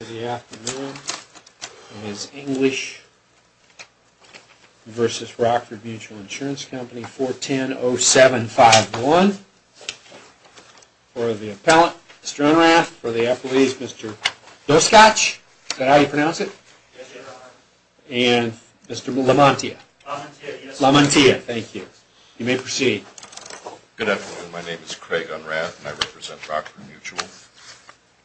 Good afternoon. It is English v. Rockford Mutual Insurance Company 410-0751. For the appellant, Mr. Unrath. For the appellees, Mr. Doskotch. Is that how you pronounce it? And Mr. Lamontia. Lamontia, thank you. You may proceed. Good afternoon. My name is Craig Unrath and I represent Rockford Mutual.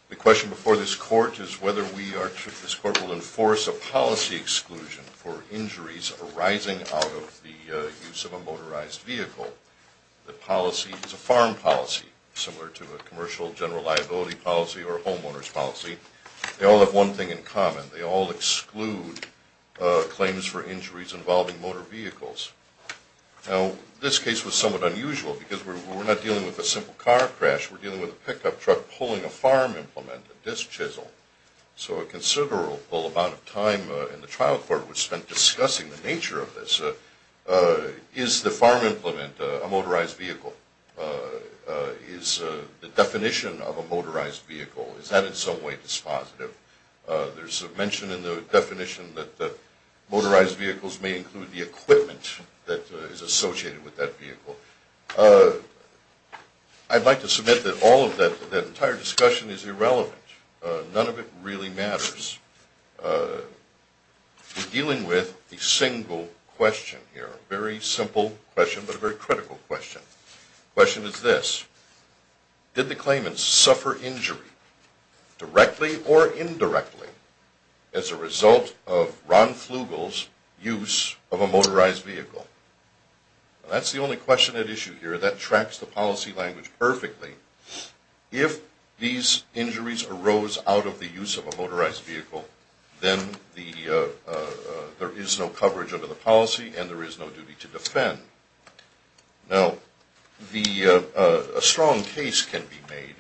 The question before this court is whether this court will enforce a policy exclusion for injuries arising out of the use of a motorized vehicle. The policy is a farm policy, similar to a commercial general liability policy or a homeowner's policy. They all have one thing in common. They all exclude claims for injuries involving motor vehicles. Now, this case was somewhat unusual because we're not dealing with a simple car crash. We're dealing with a pickup truck pulling a farm implement, a disc chisel. So a considerable amount of time in the trial court was spent discussing the nature of this. Is the farm implement a motorized vehicle? Is the definition of a motorized vehicle? Is that in some way dispositive? There's a mention in the definition that motorized vehicles may include the equipment that is associated with that vehicle. I'd like to submit that all of that entire discussion is irrelevant. None of it really matters. We're dealing with a single question here. A very simple question, but a very critical question. The question is this. Did the claimants suffer injury, directly or indirectly, as a result of Ron Flugel's use of a motorized vehicle? That's the only question at issue here that tracks the policy language perfectly. If these injuries arose out of the use of a motorized vehicle, then there is no coverage under the policy and there is no duty to defend. Now, a strong case can be made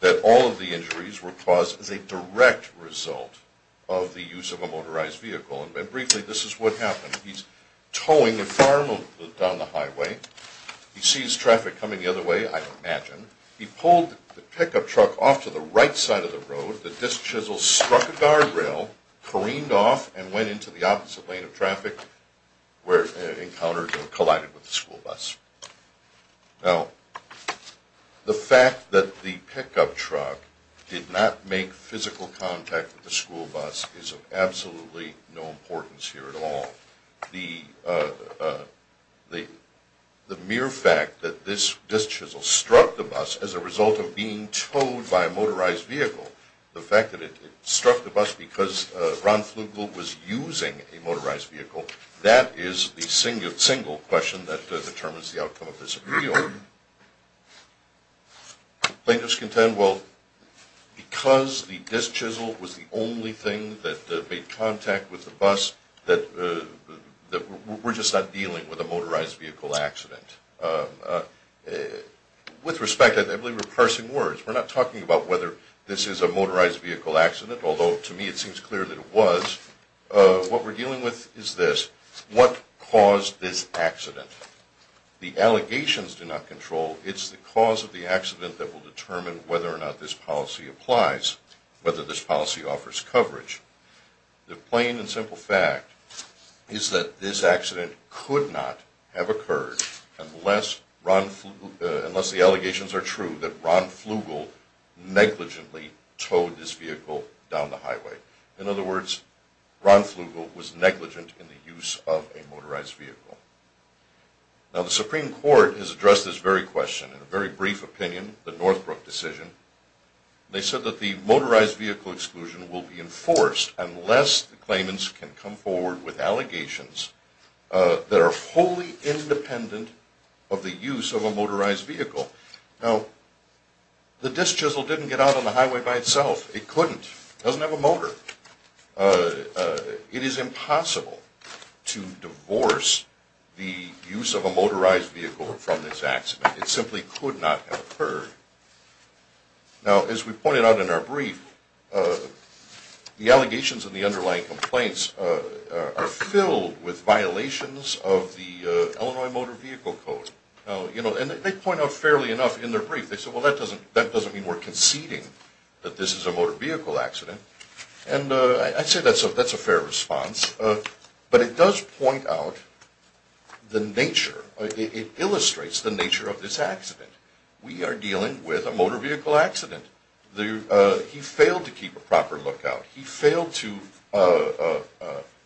that all of the injuries were caused as a direct result of the use of a motorized vehicle. Briefly, this is what happened. He's towing a farm down the highway. He sees traffic coming the other way, I imagine. He pulled the pickup truck off to the right side of the road. The disc chisel struck a guardrail, careened off, and went into the opposite lane of traffic where it collided with the school bus. Now, the fact that the pickup truck did not make physical contact with the school bus is of absolutely no importance here at all. The mere fact that this disc chisel struck the bus as a result of being towed by a motorized vehicle, the fact that it struck the bus because Ron Flugel was using a motorized vehicle, that is the single question that determines the outcome of this appeal. Plaintiffs contend, well, because the disc chisel was the only thing that made contact with the bus, that we're just not dealing with a motorized vehicle accident. With respect, I believe we're parsing words. We're not talking about whether this is a motorized vehicle accident, although to me it seems clear that it was. What we're dealing with is this. What caused this accident? The allegations do not control. It's the cause of the accident that will determine whether or not this policy applies, whether this policy offers coverage. The plain and simple fact is that this accident could not have occurred unless the allegations are true that Ron Flugel negligently towed this vehicle down the highway. In other words, Ron Flugel was negligent in the use of a motorized vehicle. Now, the Supreme Court has addressed this very question in a very brief opinion, the Northbrook decision. They said that the motorized vehicle exclusion will be enforced unless the claimants can come forward with allegations that are wholly independent of the use of a motorized vehicle. Now, the disc chisel didn't get out on the highway by itself. It couldn't. It doesn't have a motor. It is impossible to divorce the use of a motorized vehicle from this accident. It simply could not have occurred. Now, as we pointed out in our brief, the allegations and the underlying complaints are filled with violations of the Illinois Motor Vehicle Code. And they point out fairly enough in their brief, they said, well, that doesn't mean we're conceding that this is a motor vehicle accident. And I'd say that's a fair response. But it does point out the nature, it illustrates the nature of this accident. We are dealing with a motor vehicle accident. He failed to keep a proper lookout. He failed to,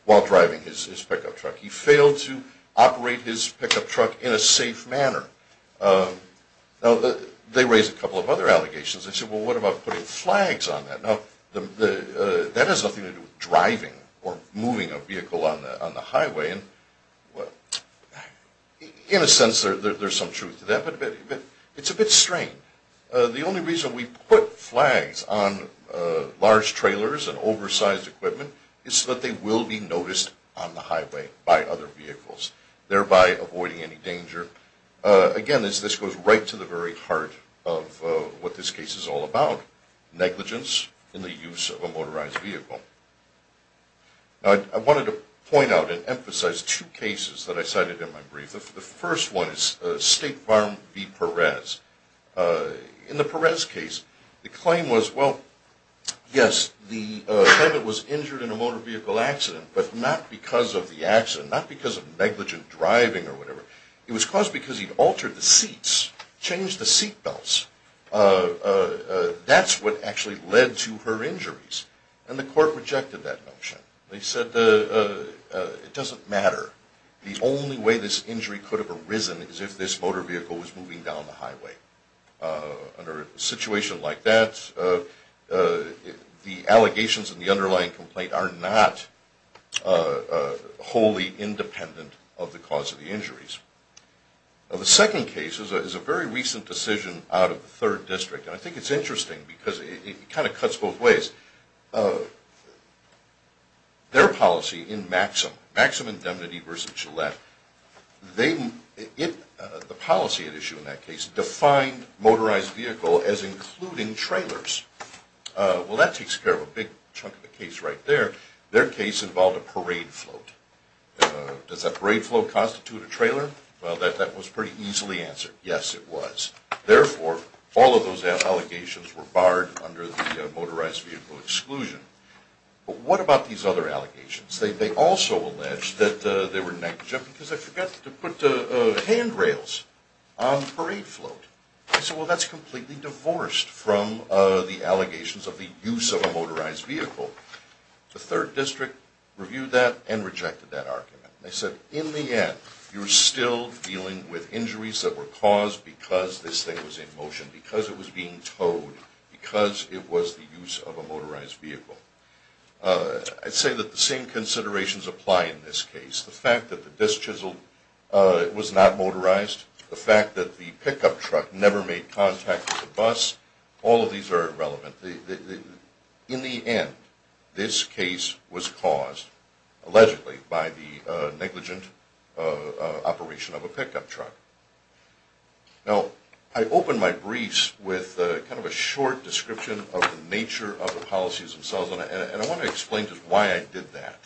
while driving his pickup truck, he failed to operate his pickup truck in a safe manner. Now, they raised a couple of other allegations. They said, well, what about putting flags on that? Now, that has nothing to do with driving or moving a vehicle on the highway. In a sense, there's some truth to that. But it's a bit strange. The only reason we put flags on large trailers and oversized equipment is so that they will be noticed on the highway by other vehicles, thereby avoiding any danger. Again, this goes right to the very heart of what this case is all about, negligence in the use of a motorized vehicle. Now, I wanted to point out and emphasize two cases that I cited in my brief. The first one is State Farm v. Perez. In the Perez case, the claim was, well, yes, the defendant was injured in a motor vehicle accident, but not because of the accident, not because of negligent driving or whatever. It was caused because he altered the seats, changed the seat belts. That's what actually led to her injuries. And the court rejected that notion. They said, it doesn't matter. The only way this injury could have arisen is if this motor vehicle was moving down the highway. Under a situation like that, the allegations in the underlying complaint are not wholly independent of the cause of the injuries. The second case is a very recent decision out of the 3rd District, and I think it's interesting because it kind of cuts both ways. Their policy in Maxim, Maxim Indemnity v. Gillette, the policy at issue in that case defined motorized vehicle as including trailers. Well, that takes care of a big chunk of the case right there. Their case involved a parade float. Does that parade float constitute a trailer? Well, that was pretty easily answered. Yes, it was. Therefore, all of those allegations were barred under the motorized vehicle exclusion. But what about these other allegations? They also alleged that they were negligent because they forgot to put handrails on the parade float. They said, well, that's completely divorced from the allegations of the use of a motorized vehicle. The 3rd District reviewed that and rejected that argument. They said, in the end, you're still dealing with injuries that were caused because this thing was in motion, because it was being towed, because it was the use of a motorized vehicle. I'd say that the same considerations apply in this case. The fact that the disc chisel was not motorized, the fact that the pickup truck never made contact with the bus, all of these are irrelevant. In the end, this case was caused, allegedly, by the negligent operation of a pickup truck. Now, I opened my briefs with kind of a short description of the nature of the policies themselves, and I want to explain just why I did that.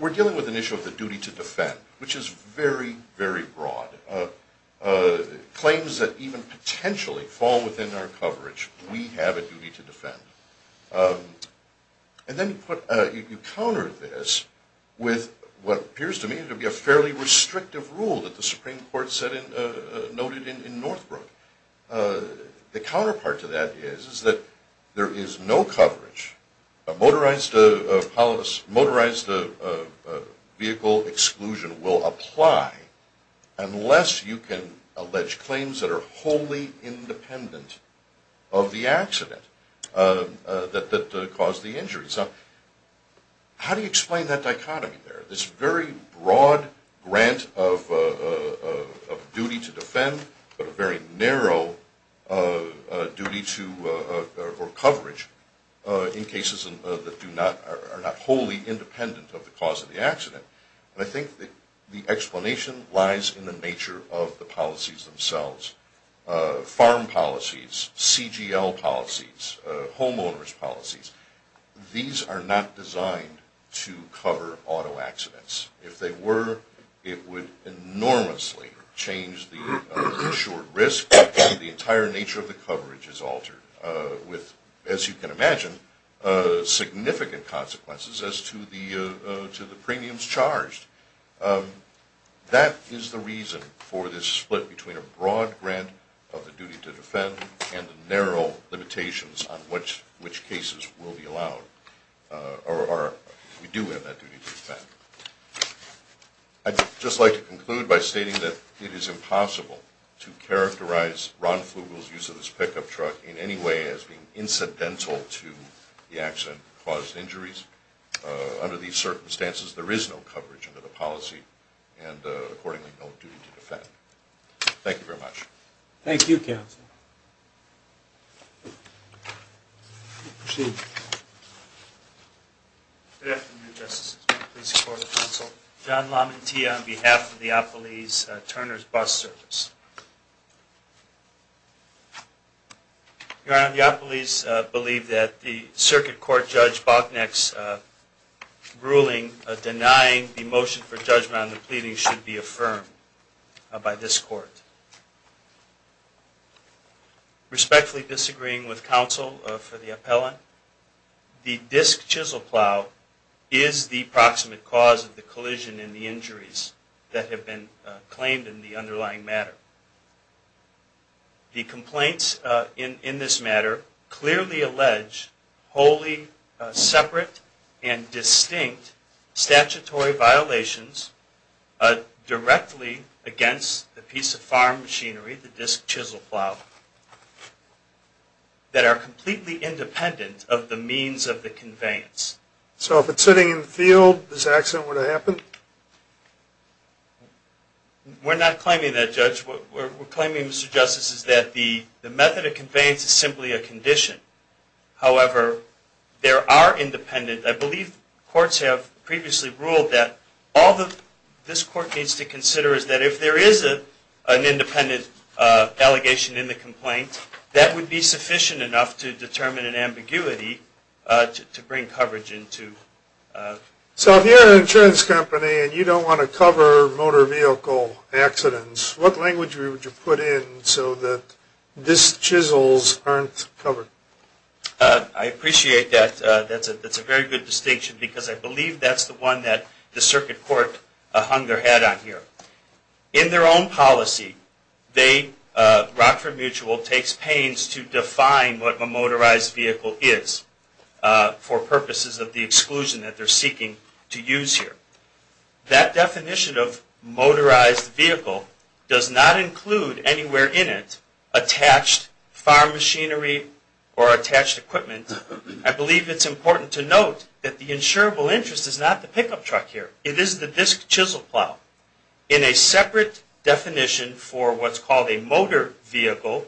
We're dealing with an issue of the duty to defend, which is very, very broad. Claims that even potentially fall within our coverage, we have a duty to defend. And then you counter this with what appears to me to be a fairly restrictive rule that the Supreme Court noted in Northbrook. The counterpart to that is that there is no coverage. A motorized vehicle exclusion will apply unless you can allege claims that are wholly independent of the accident that caused the injury. So how do you explain that dichotomy there? This very broad grant of duty to defend, but a very narrow duty or coverage in cases that are not wholly independent of the cause of the accident. And I think the explanation lies in the nature of the policies themselves. Farm policies, CGL policies, homeowner's policies, these are not designed to cover auto accidents. If they were, it would enormously change the insured risk, and the entire nature of the coverage is altered with, as you can imagine, significant consequences as to the premiums charged. That is the reason for this split between a broad grant of the duty to defend and the narrow limitations on which cases will be allowed, or we do have that duty to defend. I'd just like to conclude by stating that it is impossible to characterize Ron Flugel's use of this pickup truck in any way as being incidental to the accident that caused injuries. Under these circumstances, there is no coverage under the policy, and accordingly, no duty to defend. Thank you very much. Thank you, counsel. Proceed. Good afternoon, Justices. May it please the Court of Counsel. John Lamontilla on behalf of the Oppolese Turner's Bus Service. Your Honor, the Oppolese believe that the Circuit Court Judge Boknek's ruling denying the motion for judgment on the pleading should be affirmed by this Court. Respectfully disagreeing with counsel for the appellant, the disc chisel plow is the proximate cause of the collision and the injuries that have been claimed in the underlying matter. The complaints in this matter clearly allege wholly separate and distinct statutory violations directly against the piece of farm machinery, the disc chisel plow, that are completely independent of the means of the conveyance. So if it's sitting in the field, this accident would have happened? We're not claiming that, Judge. What we're claiming, Mr. Justice, is that the method of conveyance is simply a condition. However, there are independent, I believe courts have previously ruled that all this Court needs to consider is that if there is an independent allegation in the complaint, that would be sufficient enough to determine an ambiguity to bring coverage into. So if you're an insurance company and you don't want to cover motor vehicle accidents, what language would you put in so that disc chisels aren't covered? I appreciate that. That's a very good distinction because I believe that's the one that the Circuit Court hung their head on here. In their own policy, Rockford Mutual takes pains to define what a motorized vehicle is for purposes of the exclusion that they're seeking to use here. That definition of motorized vehicle does not include anywhere in it attached farm machinery or attached equipment. I believe it's important to note that the insurable interest is not the pickup truck here. It is the disc chisel plow. In a separate definition for what's called a motor vehicle,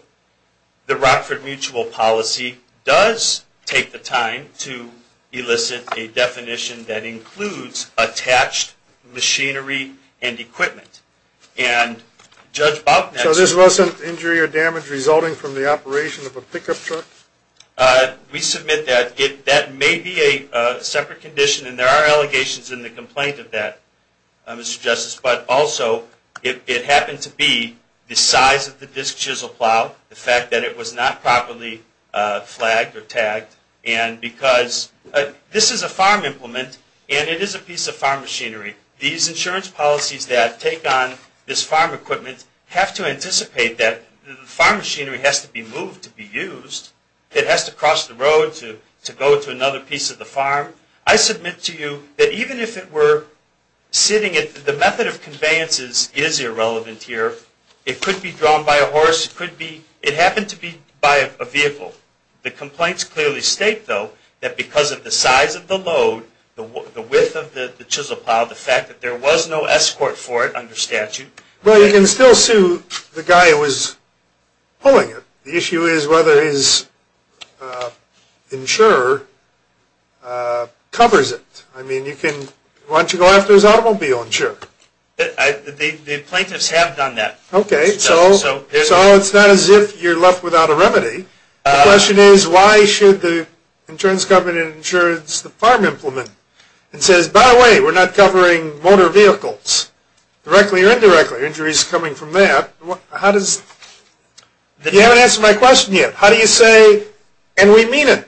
the Rockford Mutual policy does take the time to elicit a definition that includes attached machinery and equipment. So this wasn't injury or damage resulting from the operation of a pickup truck? We submit that that may be a separate condition, and there are allegations in the complaint of that, Mr. Justice. But also, it happened to be the size of the disc chisel plow, the fact that it was not properly flagged or tagged. This is a farm implement, and it is a piece of farm machinery. These insurance policies that take on this farm equipment have to anticipate that the farm machinery has to be moved to be used. It has to cross the road to go to another piece of the farm. I submit to you that even if it were sitting, the method of conveyances is irrelevant here. It could be drawn by a horse. It happened to be by a vehicle. The complaints clearly state, though, that because of the size of the load, the width of the chisel plow, the fact that there was no escort for it under statute... Well, you can still sue the guy who was pulling it. The issue is whether his insurer covers it. I mean, why don't you go after his automobile insurer? The plaintiffs have done that. Okay, so it's not as if you're left without a remedy. The question is, why should the insurance company insurance the farm implement? It says, by the way, we're not covering motor vehicles, directly or indirectly. Injury is coming from that. You haven't answered my question yet. How do you say, and we mean it.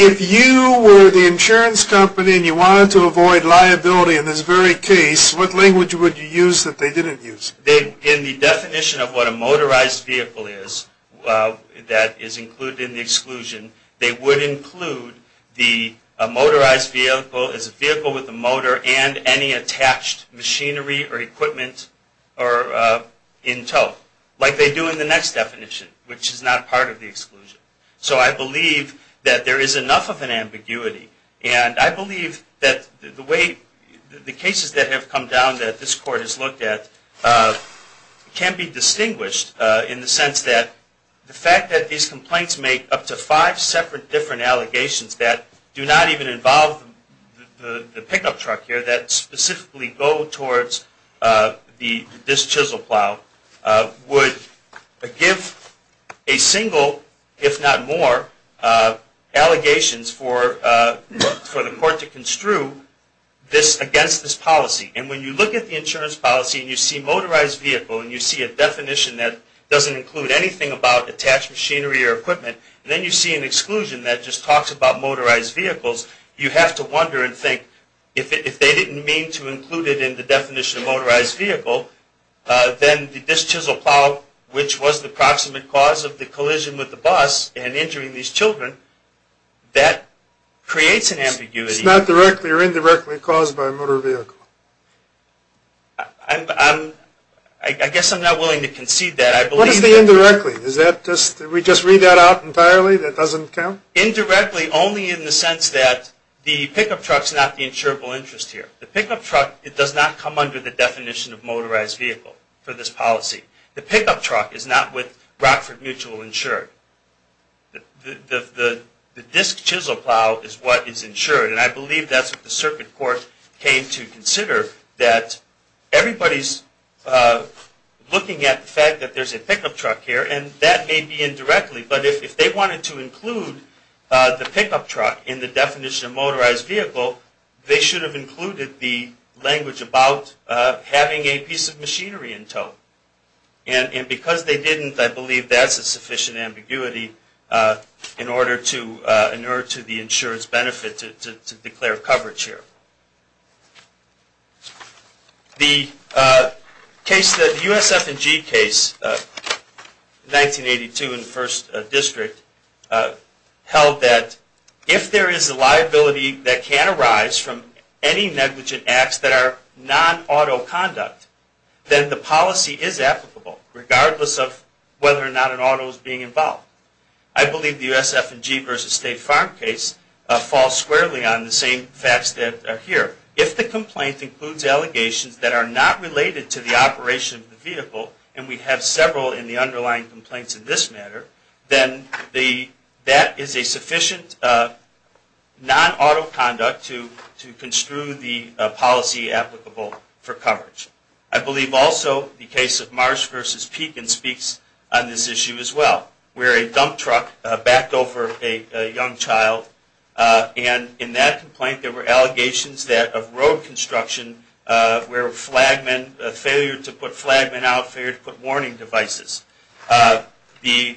If you were the insurance company and you wanted to avoid liability in this very case, what language would you use that they didn't use? In the definition of what a motorized vehicle is, that is included in the exclusion, they would include the motorized vehicle as a vehicle with a motor and any attached machinery or equipment in tow. Like they do in the next definition, which is not part of the exclusion. So I believe that there is enough of an ambiguity. And I believe that the cases that have come down that this court has looked at can be distinguished, in the sense that the fact that these complaints make up to five separate different allegations that do not even involve the pickup truck here that specifically go towards this chisel plow, would give a single, if not more, allegations for the court to construe against this policy. And when you look at the insurance policy and you see motorized vehicle and you see a definition that doesn't include anything about attached machinery or equipment, and then you see an exclusion that just talks about motorized vehicles, you have to wonder and think, if they didn't mean to include it in the definition of motorized vehicle, then this chisel plow, which was the proximate cause of the collision with the bus and injuring these children, that creates an ambiguity. It's not directly or indirectly caused by a motor vehicle. I guess I'm not willing to concede that. What is the indirectly? Did we just read that out entirely? That doesn't count? Indirectly only in the sense that the pickup truck is not the insurable interest here. The pickup truck does not come under the definition of motorized vehicle for this policy. The pickup truck is not with Rockford Mutual insured. The disc chisel plow is what is insured, and I believe that's what the circuit court came to consider, that everybody's looking at the fact that there's a pickup truck here, and that may be indirectly, but if they wanted to include the pickup truck in the definition of motorized vehicle, they should have included the language about having a piece of machinery in tow. And because they didn't, I believe that's a sufficient ambiguity in order to inure to the insurance benefit to declare coverage here. The USF&G case, 1982 in the first district, held that if there is a liability that can arise from any negligent acts that are non-auto conduct, then the policy is applicable, regardless of whether or not an auto is being involved. I believe the USF&G versus State Farm case falls squarely on the same facts that are here. If the complaint includes allegations that are not related to the operation of the vehicle, and we have several in the underlying complaints in this matter, then that is a sufficient non-auto conduct to construe the policy applicable for coverage. I believe also the case of Marsh versus Pekin speaks on this issue as well, where a dump truck backed over a young child, and in that complaint there were allegations of road construction, where flagmen, failure to put flagmen out, failure to put warning devices. The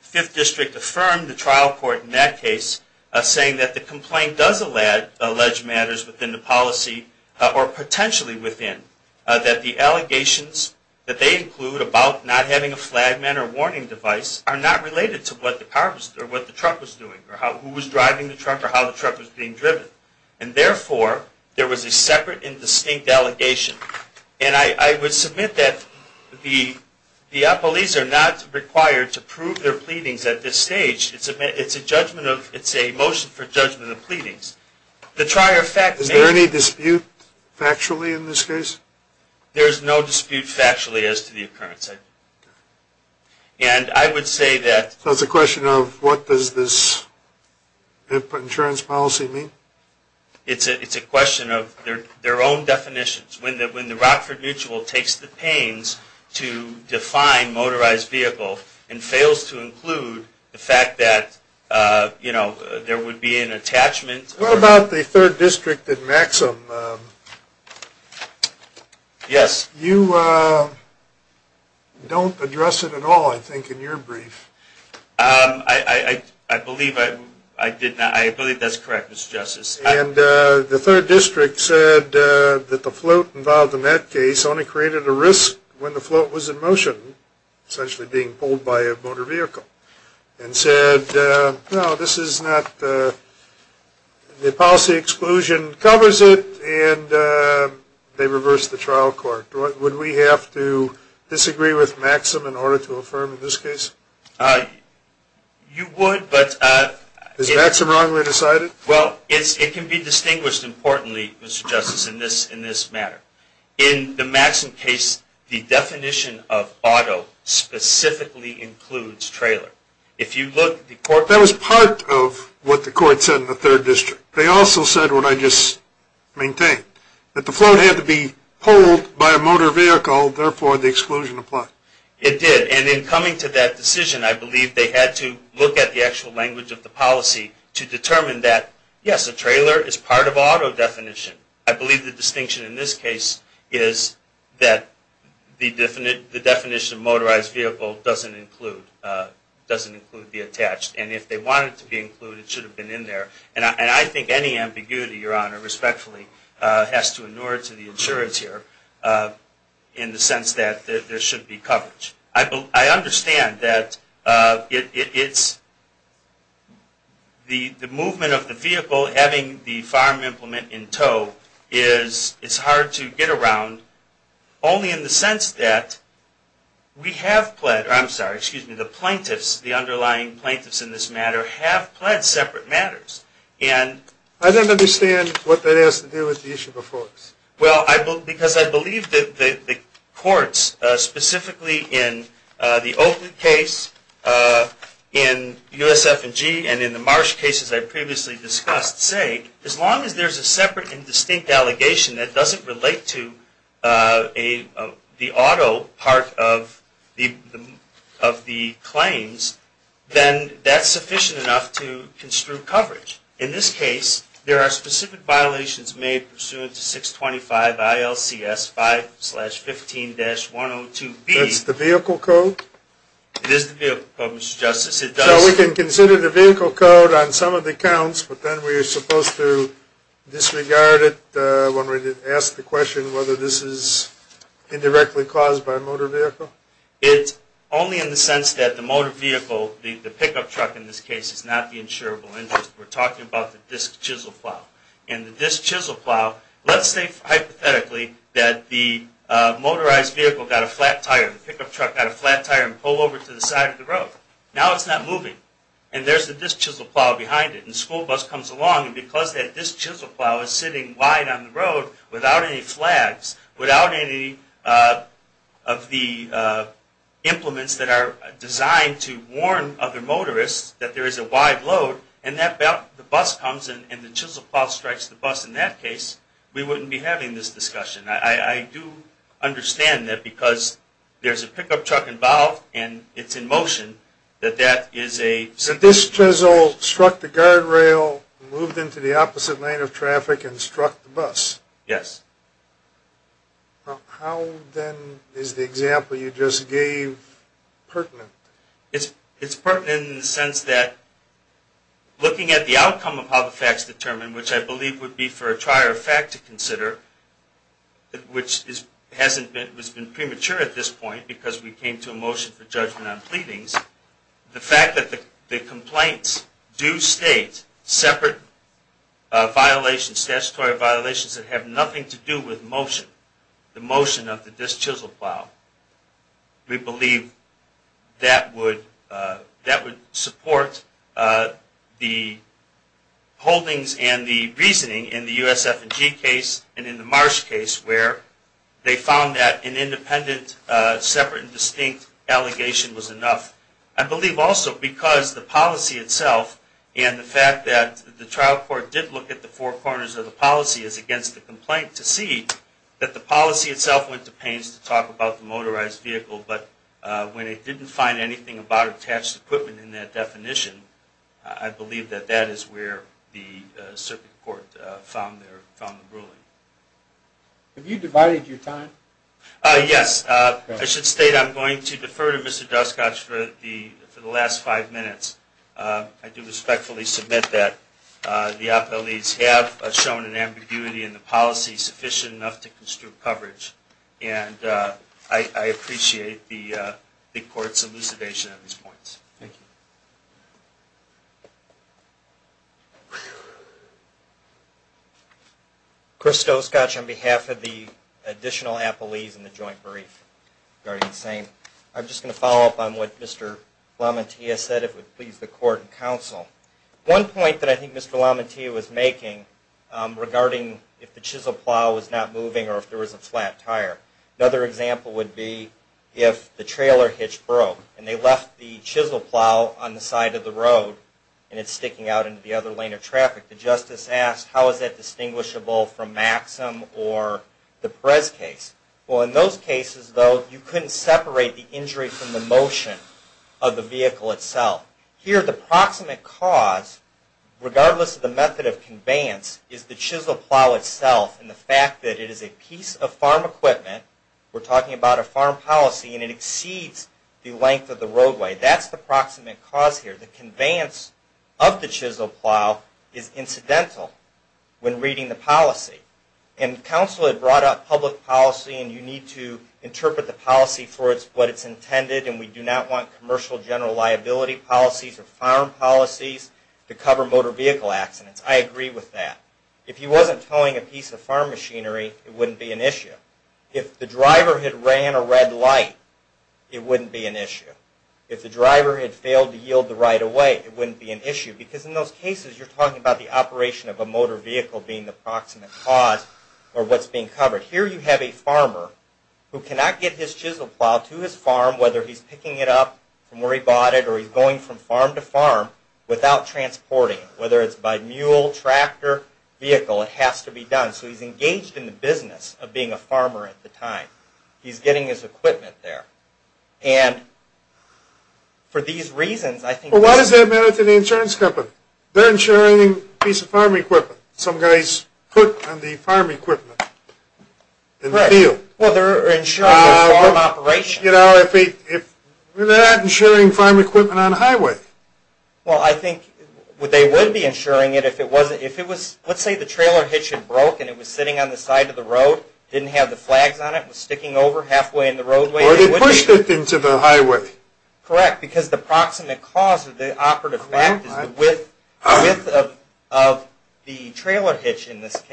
fifth district affirmed the trial court in that case, saying that the complaint does allege matters within the policy, or potentially within, that the allegations that they include about not having a flagman or warning device are not related to what the truck was doing, or who was driving the truck, or how the truck was being driven. And therefore, there was a separate and distinct allegation. And I would submit that the police are not required to prove their pleadings at this stage. It's a motion for judgment of pleadings. Is there any dispute factually in this case? There is no dispute factually as to the occurrence. And I would say that... So it's a question of what does this insurance policy mean? It's a question of their own definitions. When the Rockford Mutual takes the pains to define motorized vehicle, and fails to include the fact that, you know, there would be an attachment... What about the third district at Maxim? Yes. You don't address it at all, I think, in your brief. I believe that's correct, Mr. Justice. And the third district said that the float involved in that case only created a risk when the float was in motion, essentially being pulled by a motor vehicle, and said, No, this is not... The policy exclusion covers it, and they reversed the trial court. Would we have to disagree with Maxim in order to affirm in this case? You would, but... Is Maxim wrongly decided? Well, it can be distinguished importantly, Mr. Justice, in this matter. In the Maxim case, the definition of auto specifically includes trailer. That was part of what the court said in the third district. They also said what I just maintained, that the float had to be pulled by a motor vehicle, therefore the exclusion applied. It did, and in coming to that decision, I believe they had to look at the actual language of the policy to determine that, yes, a trailer is part of auto definition. I believe the distinction in this case is that the definition of motorized vehicle doesn't include the attached, and if they wanted it to be included, it should have been in there. And I think any ambiguity, Your Honor, respectfully, has to inure to the insurance here, in the sense that there should be coverage. I understand that it's... The movement of the vehicle, having the farm implement in tow, is hard to get around, only in the sense that we have pled... I'm sorry, excuse me, the plaintiffs, the underlying plaintiffs in this matter, have pled separate matters, and... I don't understand what that has to do with the issue before us. Well, because I believe that the courts, specifically in the Oakley case, in USF&G, and in the Marsh cases I previously discussed, say as long as there's a separate and distinct allegation that doesn't relate to the auto part of the claims, then that's sufficient enough to construe coverage. In this case, there are specific violations made pursuant to 625 ILCS 5-15-102B. That's the vehicle code? It is the vehicle code, Mr. Justice, it does... So we can consider the vehicle code on some of the counts, but then we're supposed to disregard it when we ask the question whether this is indirectly caused by a motor vehicle? It's only in the sense that the motor vehicle, the pickup truck in this case, is not the insurable interest. We're talking about the disc chisel plow. And the disc chisel plow, let's say hypothetically that the motorized vehicle got a flat tire, the pickup truck got a flat tire, and pulled over to the side of the road. Now it's not moving. And there's the disc chisel plow behind it. And the school bus comes along, and because that disc chisel plow is sitting wide on the road without any flags, without any of the implements that are designed to warn other motorists that there is a wide load, and the bus comes and the chisel plow strikes the bus, in that case, we wouldn't be having this discussion. I do understand that because there's a pickup truck involved and it's in motion, that that is a... The disc chisel struck the guardrail, moved into the opposite lane of traffic, and struck the bus. Yes. How, then, is the example you just gave pertinent? It's pertinent in the sense that looking at the outcome of how the fact's determined, which I believe would be for a trier of fact to consider, which has been premature at this point because we came to a motion for judgment on pleadings, the fact that the complaints do state separate violations, statutory violations, that have nothing to do with motion, the motion of the disc chisel plow, we believe that would support the holdings and the reasoning in the USF&G case and in the Marsh case where they found that an independent, separate and distinct allegation was enough. I believe also because the policy itself and the fact that the trial court did look at the four corners of the policy as against the complaint to see that the policy itself went to pains to talk about the motorized vehicle, but when it didn't find anything about attached equipment in that definition, I believe that that is where the circuit court found the ruling. Have you divided your time? Yes. I should state I'm going to defer to Mr. Duskoch for the last five minutes. I do respectfully submit that the op-ed leads have shown an ambiguity in the policy sufficient enough to construe coverage, and I appreciate the court's elucidation on these points. Thank you. Chris Duskoch on behalf of the additional appellees in the joint brief regarding the same. I'm just going to follow up on what Mr. LaMantia said, if it would please the court and counsel. One point that I think Mr. LaMantia was making regarding if the chisel plow was not moving or if there was a flat tire, another example would be if the trailer hitch broke and they left the chisel plow on the side of the road and it's sticking out into the other lane of traffic. The justice asked how is that distinguishable from Maxim or the Perez case. Well, in those cases, though, you couldn't separate the injury from the motion of the vehicle itself. Here, the proximate cause, regardless of the method of conveyance, is the chisel plow itself and the fact that it is a piece of farm equipment. We're talking about a farm policy and it exceeds the length of the roadway. That's the proximate cause here. The conveyance of the chisel plow is incidental when reading the policy. And counsel had brought up public policy and you need to interpret the policy for what it's intended and we do not want commercial general liability policies or farm policies to cover motor vehicle accidents. I agree with that. If he wasn't towing a piece of farm machinery, it wouldn't be an issue. If the driver had ran a red light, it wouldn't be an issue. If the driver had failed to yield the right of way, it wouldn't be an issue because in those cases you're talking about the operation of a motor vehicle being the proximate cause or what's being covered. Here you have a farmer who cannot get his chisel plow to his farm, whether he's picking it up from where he bought it or he's going from farm to farm, without transporting it, whether it's by mule, tractor, vehicle, it has to be done. So he's engaged in the business of being a farmer at the time. He's getting his equipment there. And for these reasons, I think... Well, why does that matter to the insurance company? They're insuring a piece of farm equipment. Some guys put on the farm equipment in the field. Well, they're insuring the farm operation. They're not insuring farm equipment on a highway. Well, I think they would be insuring it if it was... Let's say the trailer hitch had broken. It was sitting on the side of the road, didn't have the flags on it, was sticking over halfway in the roadway. Or they pushed it into the highway. Correct, because the proximate cause of the operative fact is the width of the trailer hitch.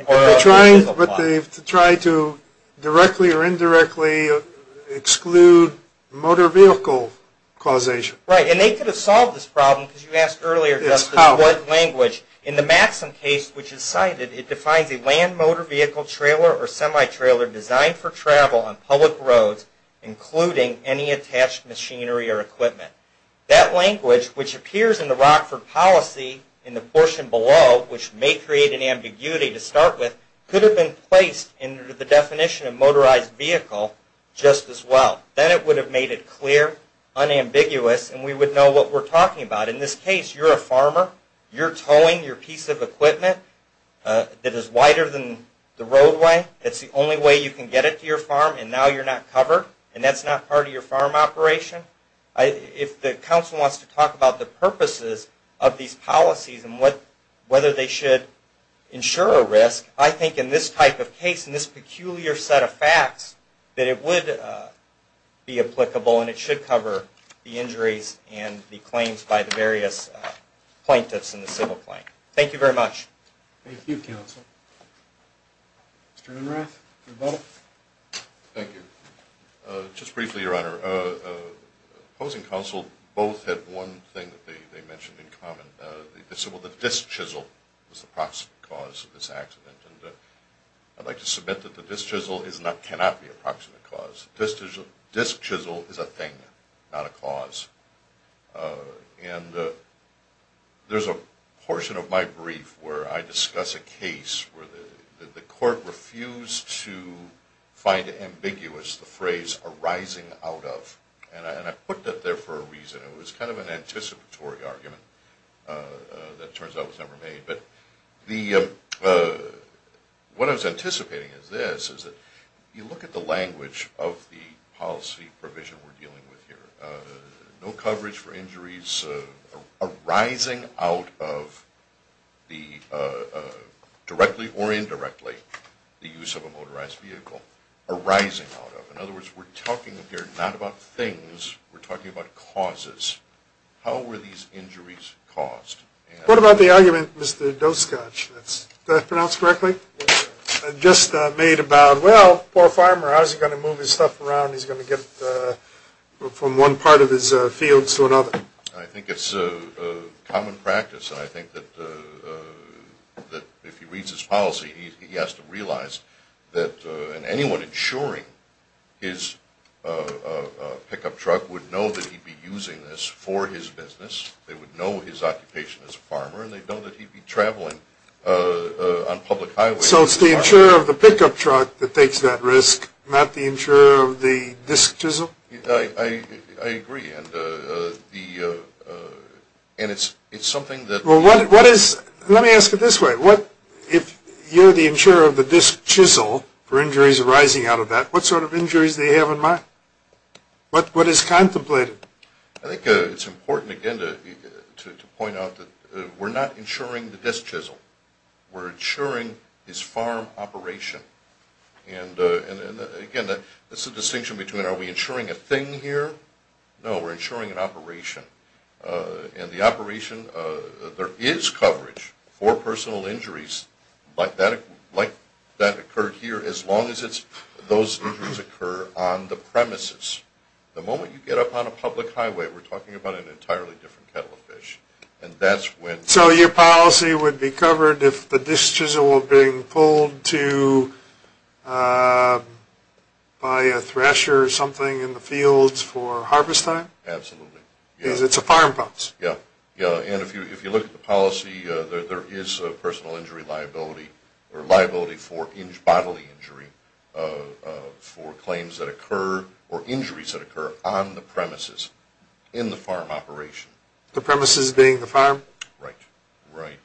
But they've tried to directly or indirectly exclude motor vehicle causation. Right, and they could have solved this problem, because you asked earlier just in what language. In the Maxim case, which is cited, it defines a land motor vehicle trailer or semi-trailer designed for travel on public roads, including any attached machinery or equipment. That language, which appears in the Rockford policy in the portion below, which may create an ambiguity to start with, could have been placed into the definition of motorized vehicle just as well. Then it would have made it clear, unambiguous, and we would know what we're talking about. In this case, you're a farmer. You're towing your piece of equipment that is wider than the roadway. It's the only way you can get it to your farm, and now you're not covered, and that's not part of your farm operation. If the council wants to talk about the purposes of these policies and whether they should ensure a risk, I think in this type of case, in this peculiar set of facts, that it would be applicable and it should cover the injuries and the claims by the various plaintiffs in the civil claim. Thank you very much. Thank you, counsel. Mr. Unrath, your vote. Thank you. Just briefly, Your Honor, opposing counsel both had one thing that they mentioned in common. They said, well, the disc chisel was the proximate cause of this accident, and I'd like to submit that the disc chisel cannot be a proximate cause. Disc chisel is a thing, not a cause. And there's a portion of my brief where I discuss a case where the court refused to find ambiguous the phrase arising out of, and I put that there for a reason. It was kind of an anticipatory argument that turns out was never made. But what I was anticipating is this, is that if you look at the language of the policy provision we're dealing with here, no coverage for injuries arising out of, directly or indirectly, the use of a motorized vehicle, arising out of. In other words, we're talking here not about things. We're talking about causes. How were these injuries caused? What about the argument, Mr. Doskotch, did I pronounce it correctly? Just made about, well, poor farmer, how's he going to move his stuff around? He's going to get it from one part of his fields to another. I think it's common practice, and I think that if he reads his policy, he has to realize that anyone insuring his pickup truck would know that he'd be using this for his business. They would know his occupation as a farmer, and they'd know that he'd be traveling on public highways. So it's the insurer of the pickup truck that takes that risk, not the insurer of the disc chisel? I agree, and it's something that. Well, let me ask it this way. If you're the insurer of the disc chisel for injuries arising out of that, what sort of injuries do you have in mind? What is contemplated? I think it's important, again, to point out that we're not insuring the disc chisel. We're insuring his farm operation. And, again, there's a distinction between are we insuring a thing here? No, we're insuring an operation. In the operation, there is coverage for personal injuries like that occurred here as long as those injuries occur on the premises. The moment you get up on a public highway, we're talking about an entirely different kettle of fish, and that's when. So your policy would be covered if the disc chisel were being pulled to buy a thresher or something in the fields for harvest time? Absolutely. Because it's a farm policy. Yeah, and if you look at the policy, there is a personal injury liability or liability for bodily injury for claims that occur or injuries that occur on the premises in the farm operation. The premises being the farm? Right, right.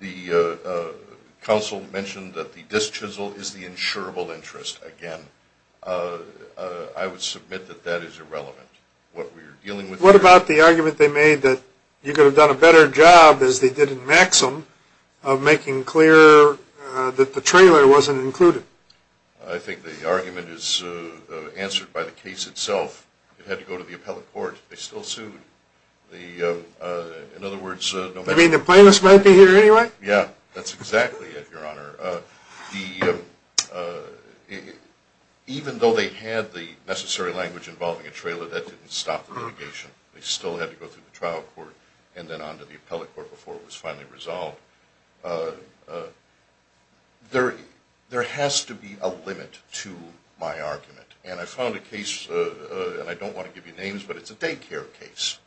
The counsel mentioned that the disc chisel is the insurable interest. Again, I would submit that that is irrelevant. What about the argument they made that you could have done a better job, as they did in Maxim, of making clear that the trailer wasn't included? I think the argument is answered by the case itself. It had to go to the appellate court. They still sued. In other words, no matter what. You mean the plaintiffs might be here anyway? Yeah, that's exactly it, Your Honor. Even though they had the necessary language involving a trailer, that didn't stop the litigation. They still had to go through the trial court and then on to the appellate court before it was finally resolved. There has to be a limit to my argument. And I found a case, and I don't want to give you names, but it's a daycare case.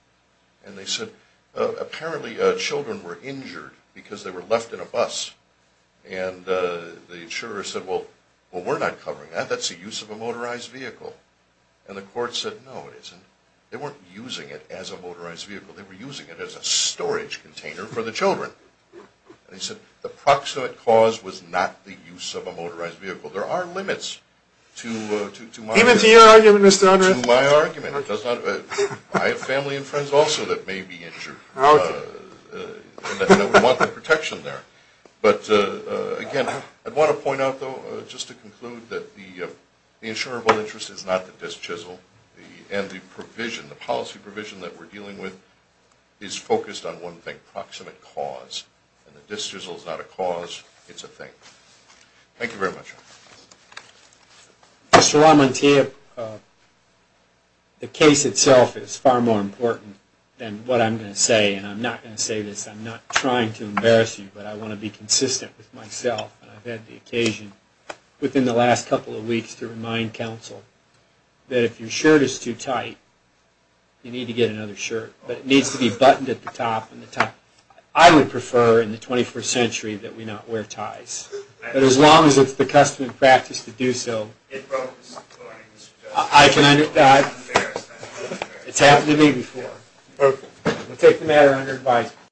And they said apparently children were injured because they were left in a bus. And the insurer said, well, we're not covering that. That's the use of a motorized vehicle. And the court said, no, it isn't. They weren't using it as a motorized vehicle. They were using it as a storage container for the children. And they said the proximate cause was not the use of a motorized vehicle. There are limits to my argument. Even to your argument, Mr. Andre? To my argument. I have family and friends also that may be injured. Okay. And we want the protection there. But, again, I want to point out, though, just to conclude that the insurable interest is not the disc chisel. And the provision, the policy provision that we're dealing with, is focused on one thing, proximate cause. And the disc chisel is not a cause. It's a thing. Thank you very much. Mr. Ramante, the case itself is far more important than what I'm going to say. And I'm not going to say this. I'm not trying to embarrass you, but I want to be consistent with myself. And I've had the occasion within the last couple of weeks to remind council that if your shirt is too tight, you need to get another shirt. But it needs to be buttoned at the top and the top. I would prefer in the 21st century that we not wear ties. But as long as it's the custom and practice to do so, I can understand. It's happened to me before. We'll take the matter under advisement.